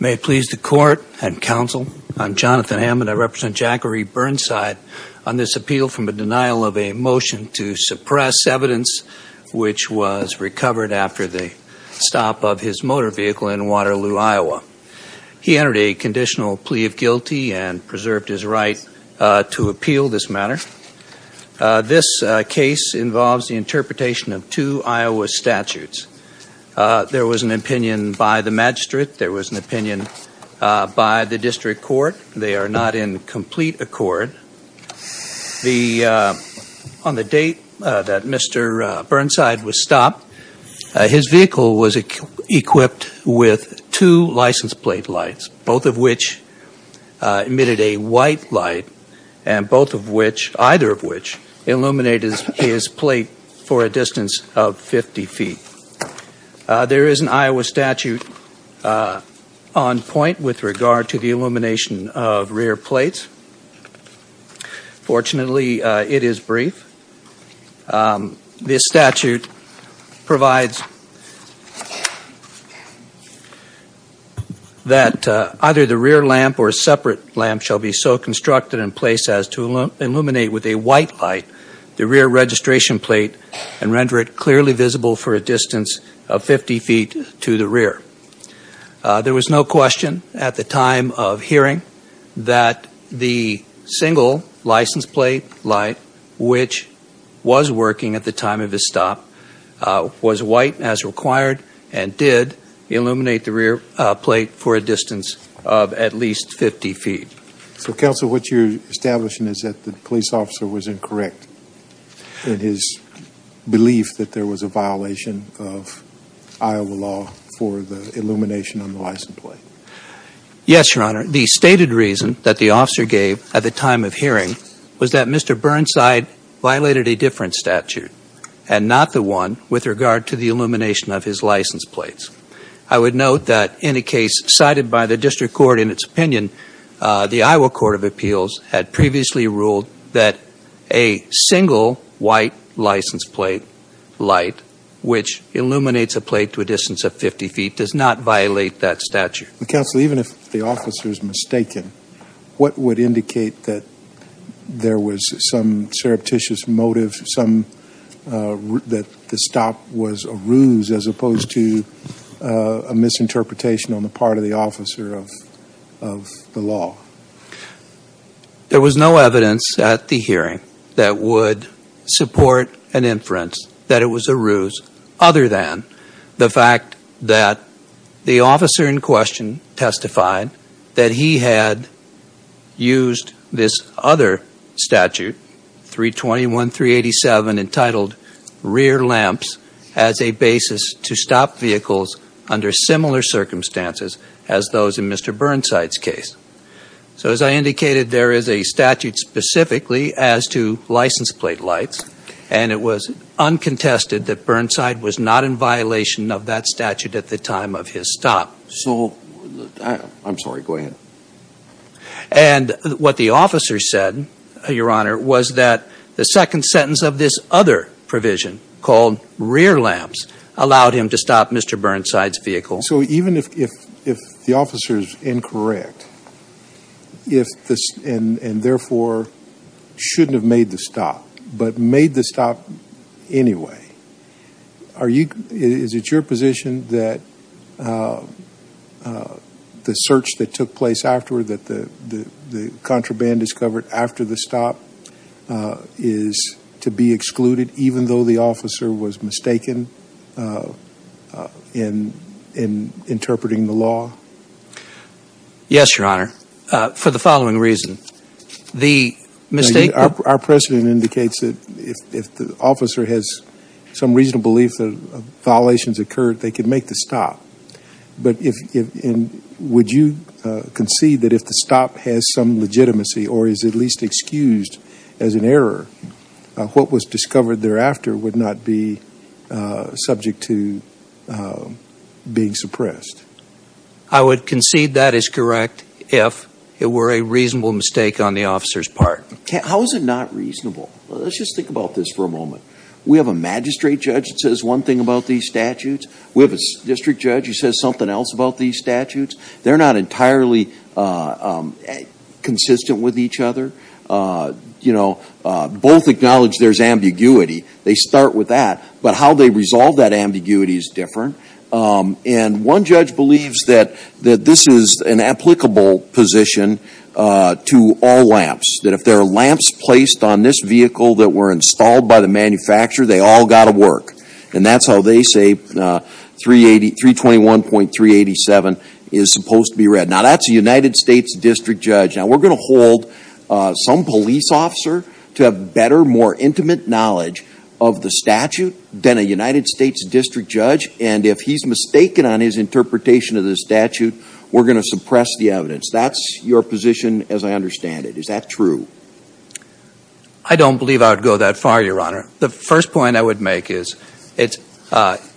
May it please the court and counsel, I'm Jonathan Hammond. I represent Jacquiere Burnside on this appeal from a denial of a motion to suppress evidence which was recovered after the stop of his motor vehicle in Waterloo, Iowa. He entered a conditional plea of guilty and preserved his right to appeal this matter. This case involves the interpretation of two Iowa statutes. There was an opinion by the magistrate. There was an opinion by the district court. They are not in complete accord. The on the date that Mr. Burnside was stopped, his vehicle was equipped with two license plate lights, both of which emitted a white light and both of which, either of which illuminated his plate for a distance of 50 feet. There is an Iowa statute on point with regard to the illumination of rear plates. Fortunately it is brief. This statute provides that either the rear lamp or a separate lamp shall be so constructed and placed as to illuminate with a white light the rear registration plate and render it clearly visible for a distance of 50 feet to the rear. There was no question at the time of hearing that the single license plate light which was working at the time of his stop was white as required and did illuminate the rear plate for a distance of at least 50 feet. So counsel, what you're establishing is that the police officer was incorrect in his belief that there was a violation of Iowa law for the illumination on the license plate. Yes, Your Honor. The stated reason that the officer gave at the time of hearing was that Mr. Burnside violated a different statute and not the one with regard to the illumination of his license plates. I would note that in a case cited by the district court in its opinion, the Iowa Court of Appeals had previously ruled that a single white license plate light which illuminates a plate to a distance of 50 feet does not violate that statute. Counsel, even if the officer is mistaken, what would indicate that there was some surreptitious motive, that the stop was a ruse as opposed to a misinterpretation on the part of the defense that it was a ruse other than the fact that the officer in question testified that he had used this other statute, 321.387, entitled rear lamps as a basis to stop vehicles under similar circumstances as those in Mr. Burnside's case. So as I indicated, there is uncontested that Burnside was not in violation of that statute at the time of his stop. So, I'm sorry, go ahead. And what the officer said, Your Honor, was that the second sentence of this other provision called rear lamps allowed him to stop Mr. Burnside's vehicle. So even if the officer is incorrect, and therefore shouldn't have made the stop, but made the stop anyway, are you, is it your position that the search that took place afterward, that the contraband is covered after the stop is to be excluded even though the officer was mistaken in interpreting the law? Yes, Your Honor, for the following reason. The if the officer has some reasonable belief that violations occurred, they could make the stop. But if, would you concede that if the stop has some legitimacy or is at least excused as an error, what was discovered thereafter would not be subject to being suppressed? I would concede that is correct if it were a reasonable mistake on the officer's part. How is it not reasonable? Let's just think about this for a moment. We have a magistrate judge that says one thing about these statutes. We have a district judge who says something else about these statutes. They're not entirely consistent with each other. You know, both acknowledge there's ambiguity. They start with that. But how they resolve that ambiguity is different. And one judge believes that this is an applicable position to all lamps, that if there are lamps placed on this vehicle that were installed by the manufacturer, they all got to work. And that's how they say 321.387 is supposed to be read. Now, that's a United States district judge. Now, we're going to hold some police officer to have better, more intimate knowledge of the statute than a United States district judge. And if he's mistaken on his interpretation of the statute, we're going to suppress the evidence. That's your rule. I don't believe I would go that far, Your Honor. The first point I would make is it's,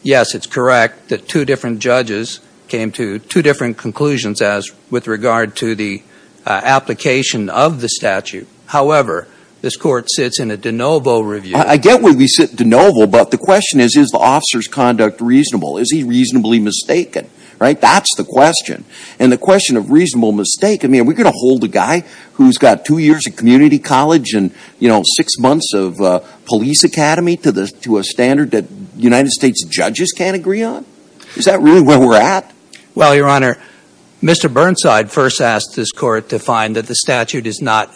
yes, it's correct that two different judges came to two different conclusions as with regard to the application of the statute. However, this court sits in a de novo review. I get where we sit in de novo, but the question is, is the officer's conduct reasonable? Is he reasonably mistaken? Right? That's the question. And the question of reasonable mistake, I mean, are we going to hold a guy who's got two years of community college and, you know, six months of police academy to a standard that United States judges can't agree on? Is that really where we're at? Well, Your Honor, Mr. Burnside first asked this court to find that the statute is not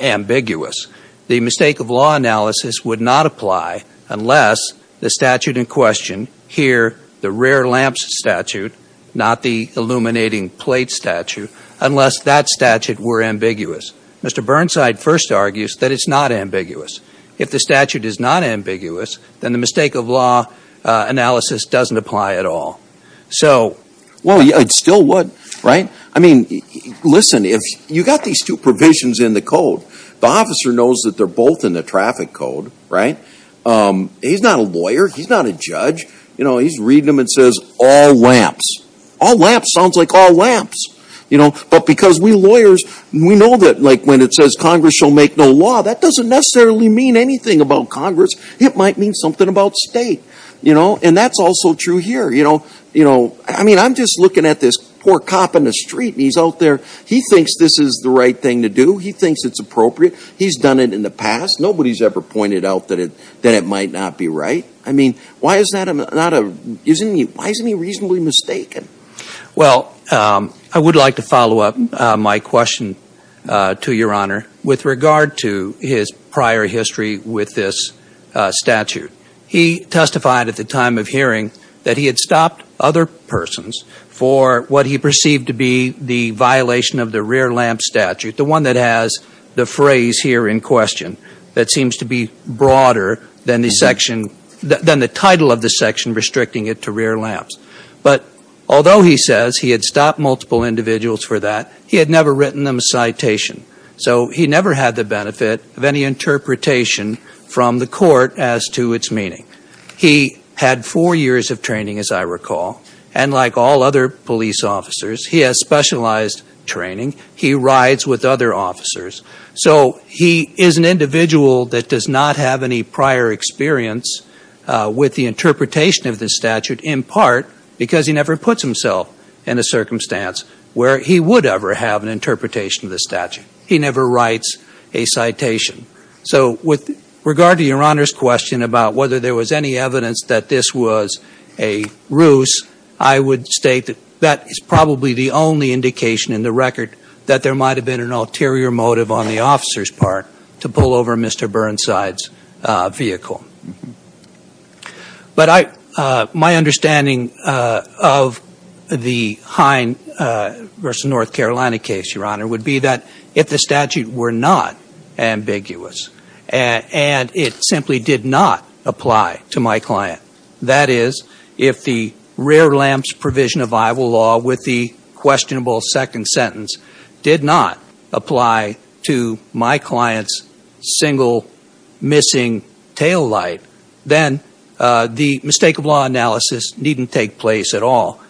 ambiguous. The mistake of law analysis would not apply unless the statute in question, here, the rear lamps statute, not the illuminating plate statute, unless that statute were ambiguous. Mr. Burnside first argues that it's not ambiguous. If the statute is not ambiguous, then the mistake of law analysis doesn't apply at all. So Well, it still would, right? I mean, listen, if you got these two provisions in the code, the officer knows that they're both in the traffic code, right? He's not a lawyer. He's not a judge. You know, he's reading them and says all lamps. All lamps sounds like all lamps. You know, but because we lawyers, we know that like when it says Congress shall make no law, that doesn't necessarily mean anything about Congress. It might mean something about state. You know? And that's also true here. You know, I mean, I'm just looking at this poor cop in the street and he's out there. He thinks this is the right thing to do. He thinks it's appropriate. He's done it in the past. Nobody's ever pointed out that it might not be right. I mean, why is that not a, isn't he, why isn't he reasonably mistaken? Well, I would like to follow up my question to your honor with regard to his prior history with this statute. He testified at the time of hearing that he had stopped other persons for what he perceived to be the violation of the rear lamp statute. The one that has the phrase here in question that seems to be broader than the section, than the title of the section restricting it to rear lamps. But although he says he had stopped multiple individuals for that, he had never written them a citation. So he never had the benefit of any interpretation from the court as to its meaning. He had four years of training as I recall. And like all other police officers, he has specialized training. He rides with other officers. So he is an individual that does not have any prior experience with the interpretation of the statute in part because he never puts himself in a circumstance where he would ever have an interpretation of the statute. He never writes a citation. So with regard to your honor's question about whether there was any evidence that this was a ruse, I would state that that is probably the only indication in the record that there might have been an ulterior motive on the officer's part to pull over Mr. Burnside's vehicle. But my understanding of the Hine versus North Carolina case, your honor, would be that if the statute were not ambiguous and it simply did not apply to my client, that is, if the statute did not apply to my client's single missing taillight, then the mistake of law analysis needn't take place at all.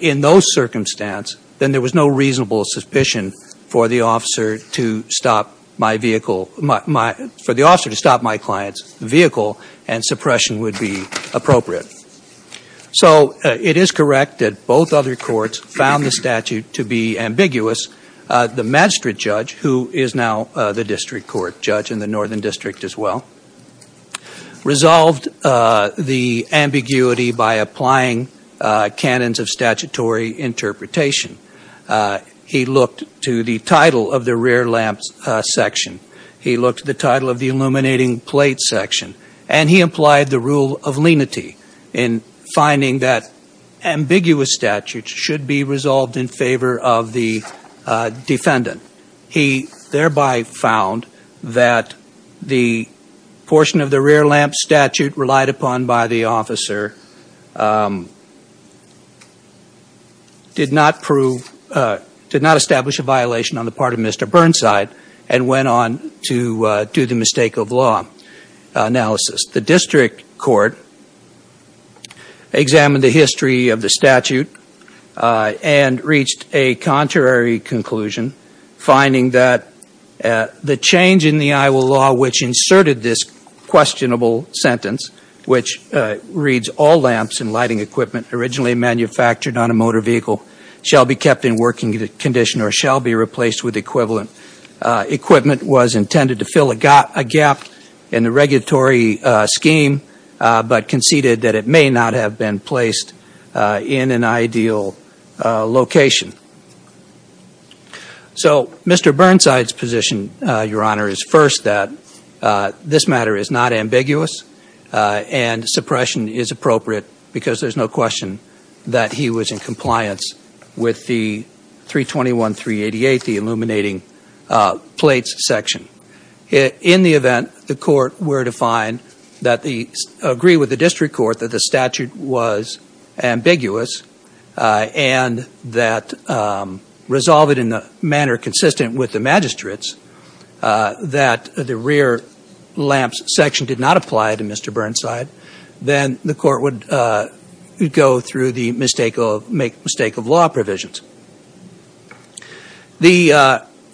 In those circumstances, then there was no reasonable suspicion for the officer to stop my vehicle, for the officer to stop my client's vehicle and suppression would be appropriate. So it is correct that both other courts found the district judge, who is now the district court judge in the Northern District as well, resolved the ambiguity by applying canons of statutory interpretation. He looked to the title of the rear lamp section. He looked to the title of the illuminating plate section. And he implied the rule of lenity in finding that ambiguous statutes should be resolved in favor of the defendant. He thereby found that the portion of the rear lamp statute relied upon by the officer did not prove, did not establish a violation on the part of Mr. Burnside and went on to do the mistake of law analysis. The district court examined the history of a contrary conclusion, finding that the change in the Iowa law which inserted this questionable sentence, which reads, all lamps and lighting equipment originally manufactured on a motor vehicle shall be kept in working condition or shall be replaced with equivalent equipment, was intended to fill a gap in the regulatory scheme, but conceded that it may not have been placed in an ideal location. So Mr. Burnside's position, Your Honor, is first that this matter is not ambiguous and suppression is appropriate because there's no question that he was in compliance with the 321-388, the illuminating plates section. In the event that the court were to find that the, agree with the district court that the statute was ambiguous and that resolve it in a manner consistent with the magistrates that the rear lamps section did not apply to Mr. Burnside, then the court would go through the mistake of, make mistake of law provisions. The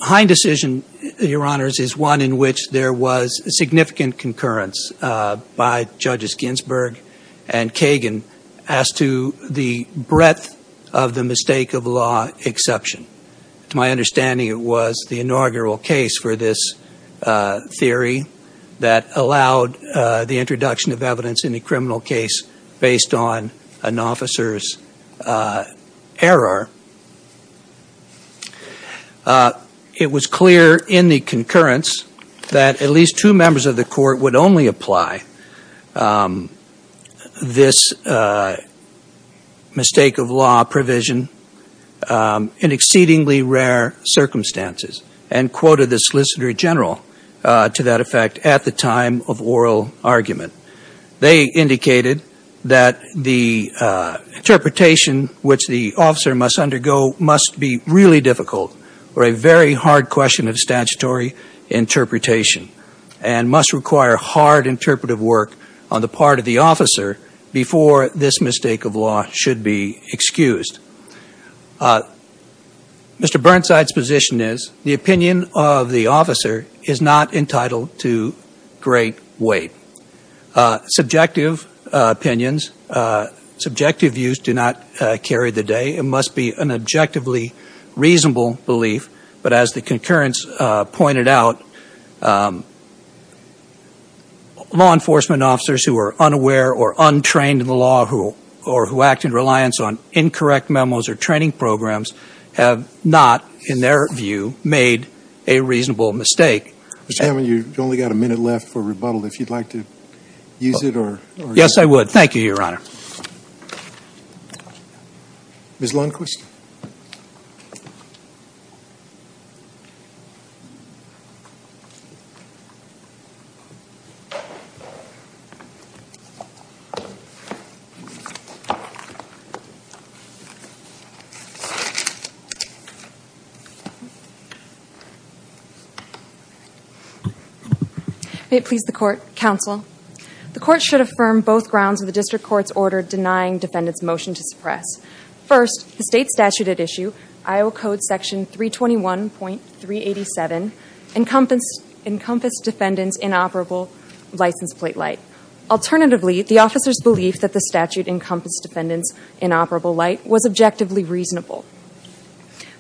Hine decision, Your Honors, is one in which there was significant concurrence by Judges Ginsburg and Kagan as to the breadth of the mistake of law exception. To my understanding, it was the inaugural case for this theory that allowed the introduction of evidence in a criminal case based on an officer's error. It was clear in the concurrence that at least two members of the court would only apply this mistake of law provision in exceedingly rare circumstances and quoted the Solicitor General to that effect at the time of oral argument. They indicated that the interpretation which the officer must undergo must be really difficult or a very hard question of statutory interpretation and must require hard interpretive work on the part of the officer before this mistake of law should be excused. Mr. Burnside's position is the opinion of the officer is not entitled to great weight. Subjective opinions, subjective views do not carry the day. It must be an objectively reasonable belief, but as the concurrence pointed out, law enforcement officers who are unaware or untrained in the law or who act in reliance on incorrect memos or training programs have not, in their view, made a reasonable mistake. Mr. Hammond, you've only got a minute left for rebuttal. If you'd like to use it or Yes, I would. Thank you, Your Honor. Ms. Lundqvist May it please the Court, Counsel. The Court should affirm both grounds of the District Court's order denying defendants' motion to suppress. First, the state statute at issue, Iowa Code Section 321.387, encompassed defendants' inoperable license plate light. Alternatively, the officer's belief that the statute encompassed defendants' inoperable light was objectively reasonable.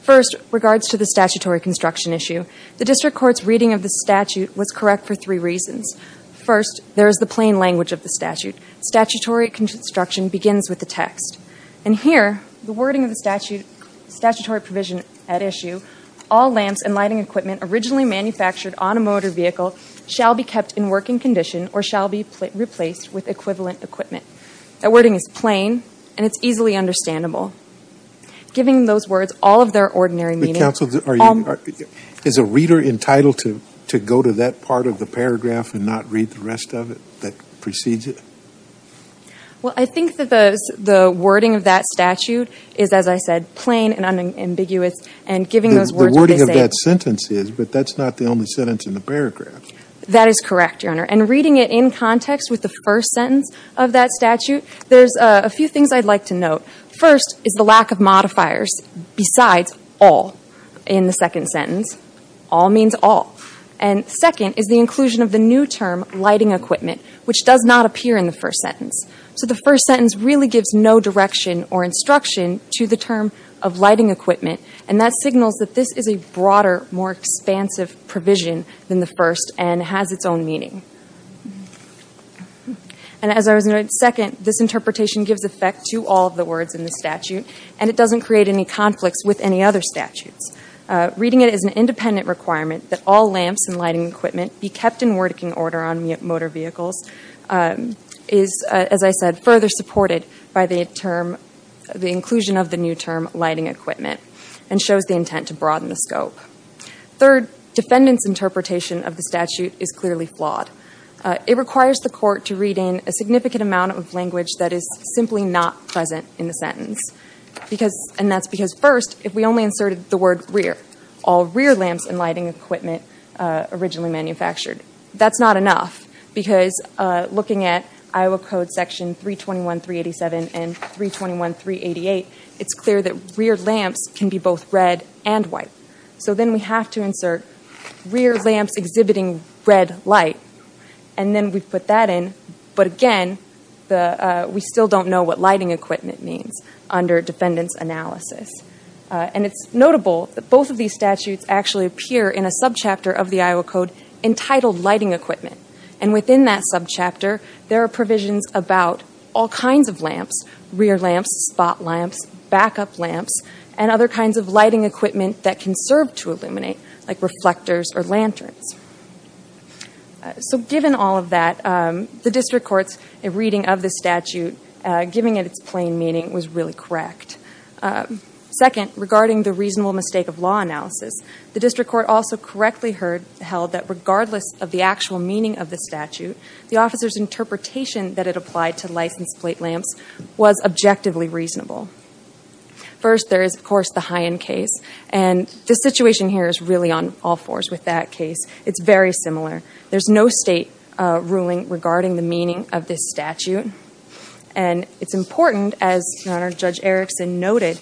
First, regards to the statutory construction issue, the District Court's reading of the statute was correct for three reasons. First, there is the plain language of the statute. Statutory construction begins with the text. And here, the wording of the statutory provision at issue, all lamps and lighting equipment originally manufactured on a motor vehicle shall be kept in working condition or shall be replaced with equivalent equipment. That wording is plain and it's easily understandable. Giving those words all of their and not read the rest of it that precedes it? Well, I think that the wording of that statute is, as I said, plain and unambiguous and giving those words what they say. The wording of that sentence is, but that's not the only sentence in the paragraph. That is correct, Your Honor. And reading it in context with the first sentence of that statute, there's a few things I'd like to note. First is the lack of modifiers besides all in the second sentence. All means all. And second is the inclusion of the new term, lighting equipment, which does not appear in the first sentence. So the first sentence really gives no direction or instruction to the term of lighting equipment. And that signals that this is a broader, more expansive provision than the first and has its own meaning. And as I was going to add, second, this interpretation gives effect to all of the words in the statute and it doesn't create any conflicts with any other statutes. Reading it as an independent requirement that all lamps and lighting equipment be kept in word-working order on motor vehicles is, as I said, further supported by the term, the inclusion of the new term, lighting equipment, and shows the intent to broaden the scope. Third, defendants' interpretation of the statute is clearly flawed. It requires the court to read in a significant amount of language that is simply not present in the sentence. And that's because first, if we only inserted the word rear, all rear lamps and lighting equipment originally manufactured, that's not enough. Because looking at Iowa Code section 321.387 and 321.388, it's clear that rear lamps can be both red and white. So then we have to insert rear lamps exhibiting red light. And then we put that in. But again, we still don't know what lighting equipment means under defendant's analysis. And it's notable that both of these statutes actually appear in a subchapter of the Iowa Code entitled lighting equipment. And within that subchapter, there are provisions about all kinds of lamps, rear lamps, spot lamps, backup lamps, and other kinds of lighting equipment that can serve to illuminate, like reflectors or lanterns. So given all of that, the district court's reading of the statute, giving it its plain meaning, was really correct. Second, regarding the reasonable mistake of law analysis, the district court also correctly held that regardless of the actual meaning of the statute, the officer's interpretation that it applied to licensed plate lamps was objectively reasonable. First, there is, of course, the High End case. And the situation here is really on all fours with that case. It's very similar. There's no state ruling regarding the and it's important, as Judge Erickson noted,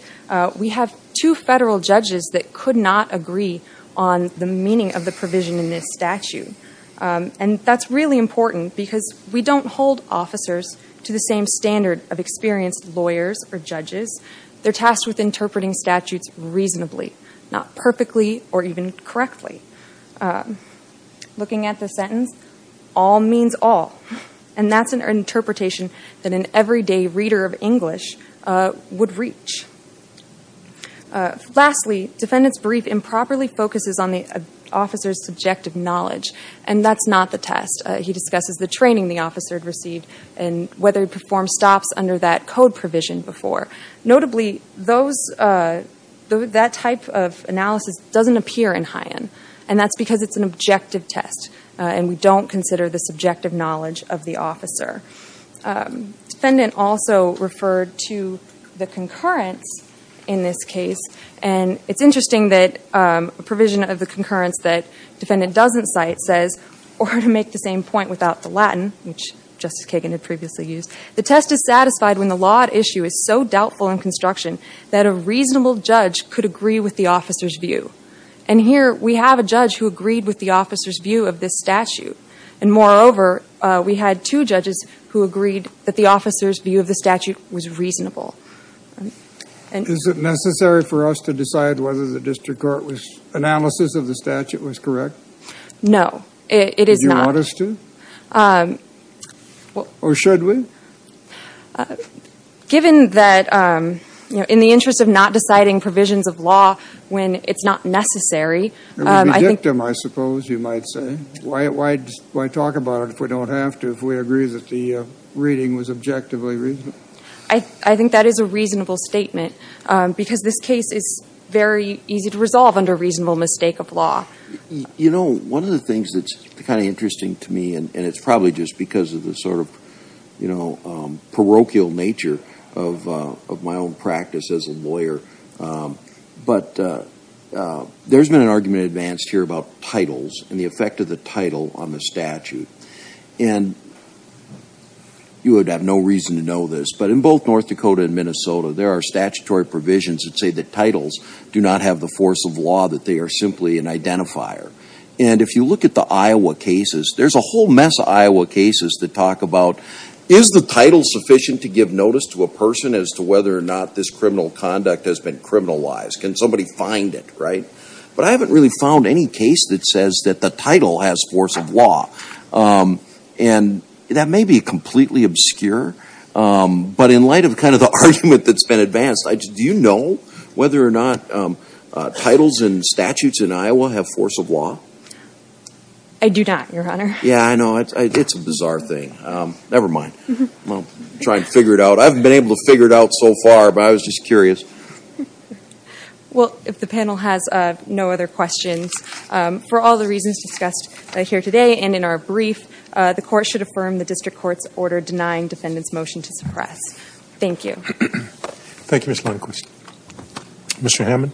we have two federal judges that could not agree on the meaning of the provision in this statute. And that's really important because we don't hold officers to the same standard of experienced lawyers or judges. They're tasked with interpreting statutes reasonably, not perfectly or even correctly. Looking at the sentence, all means all. And that's an interpretation that an everyday reader of English would reach. Lastly, defendant's brief improperly focuses on the officer's subjective knowledge. And that's not the test. He discusses the training the officer had received and whether he performed stops under that code provision before. Notably, that type of analysis doesn't appear in High End. And that's because it's an objective test. And we don't consider the subjective knowledge of the officer. Defendant also referred to the concurrence in this case. And it's interesting that a provision of the concurrence that defendant doesn't cite says, or to make the same point without the Latin, which Justice Kagan had previously used, the test is satisfied when the law at issue is so doubtful in construction that a reasonable judge could agree with the officer's view of this statute. And moreover, we had two judges who agreed that the officer's view of the statute was reasonable. Is it necessary for us to decide whether the district court's analysis of the statute was correct? No. It is not. Do you want us to? Or should we? Given that, you know, in the interest of not deciding provisions of law when it's not necessary. It would be dictum, I suppose, you might say. Why talk about it if we don't have to, if we agree that the reading was objectively reasonable? I think that is a reasonable statement. Because this case is very easy to resolve under reasonable mistake of law. You know, one of the things that's kind of interesting to me, and it's probably just of the sort of, you know, parochial nature of my own practice as a lawyer. But there's been an argument advanced here about titles and the effect of the title on the statute. And you would have no reason to know this, but in both North Dakota and Minnesota, there are statutory provisions that say that titles do not have the force of law, that they are simply an identifier. And if you look at the Iowa cases, there's a whole mess of Iowa cases that talk about, is the title sufficient to give notice to a person as to whether or not this criminal conduct has been criminalized? Can somebody find it, right? But I haven't really found any case that says that the title has force of law. And that may be completely obscure. But in light of kind of the argument that's been advanced, do you know whether or not titles and statutes in Iowa have force of law? I do not, Your Honor. Yeah, I know. It's a bizarre thing. Never mind. I'll try and figure it out. I haven't been able to figure it out so far, but I was just curious. Well, if the panel has no other questions, for all the reasons discussed here today and in our brief, the Court should affirm the District Court's order denying defendants' motion to suppress. Thank you. Thank you, Ms. Lundquist. Mr. Hammond?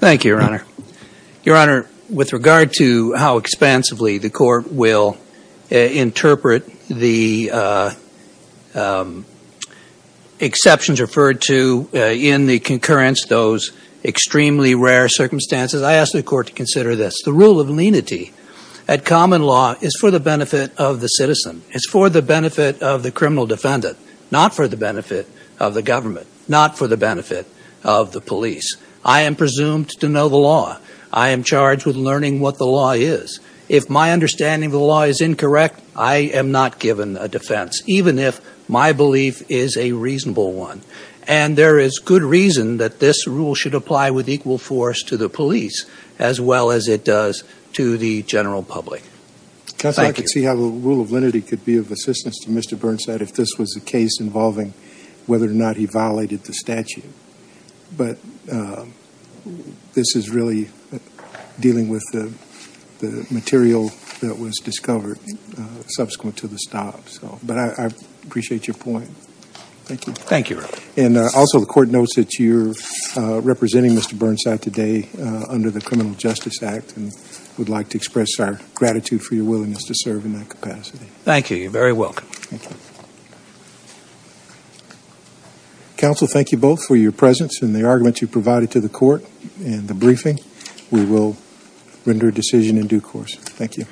Thank you, Your Honor. Your Honor, with regard to how expansively the Court will interpret the exceptions referred to in the concurrence, those extremely rare circumstances, I ask the Court to consider this. The rule of lenity at common law is for the benefit of the citizen. It's for the criminal defendant, not for the benefit of the government, not for the benefit of the police. I am presumed to know the law. I am charged with learning what the law is. If my understanding of the law is incorrect, I am not given a defense, even if my belief is a reasonable one. And there is good reason that this rule should apply with equal force to the police as well as it does to the general public. Thank you. I could see how the rule of lenity could be of assistance to Mr. Burnside if this was a case involving whether or not he violated the statute. But this is really dealing with the material that was discovered subsequent to the stop. But I appreciate your point. Thank you. Thank you, Your Honor. And also, the Court notes that you're representing Mr. Burnside today under the Criminal Justice Act and would like to express our gratitude for your willingness to serve in that capacity. Thank you. You're very welcome. Counsel, thank you both for your presence and the arguments you provided to the Court and the briefing. We will render a decision in due course. Thank you.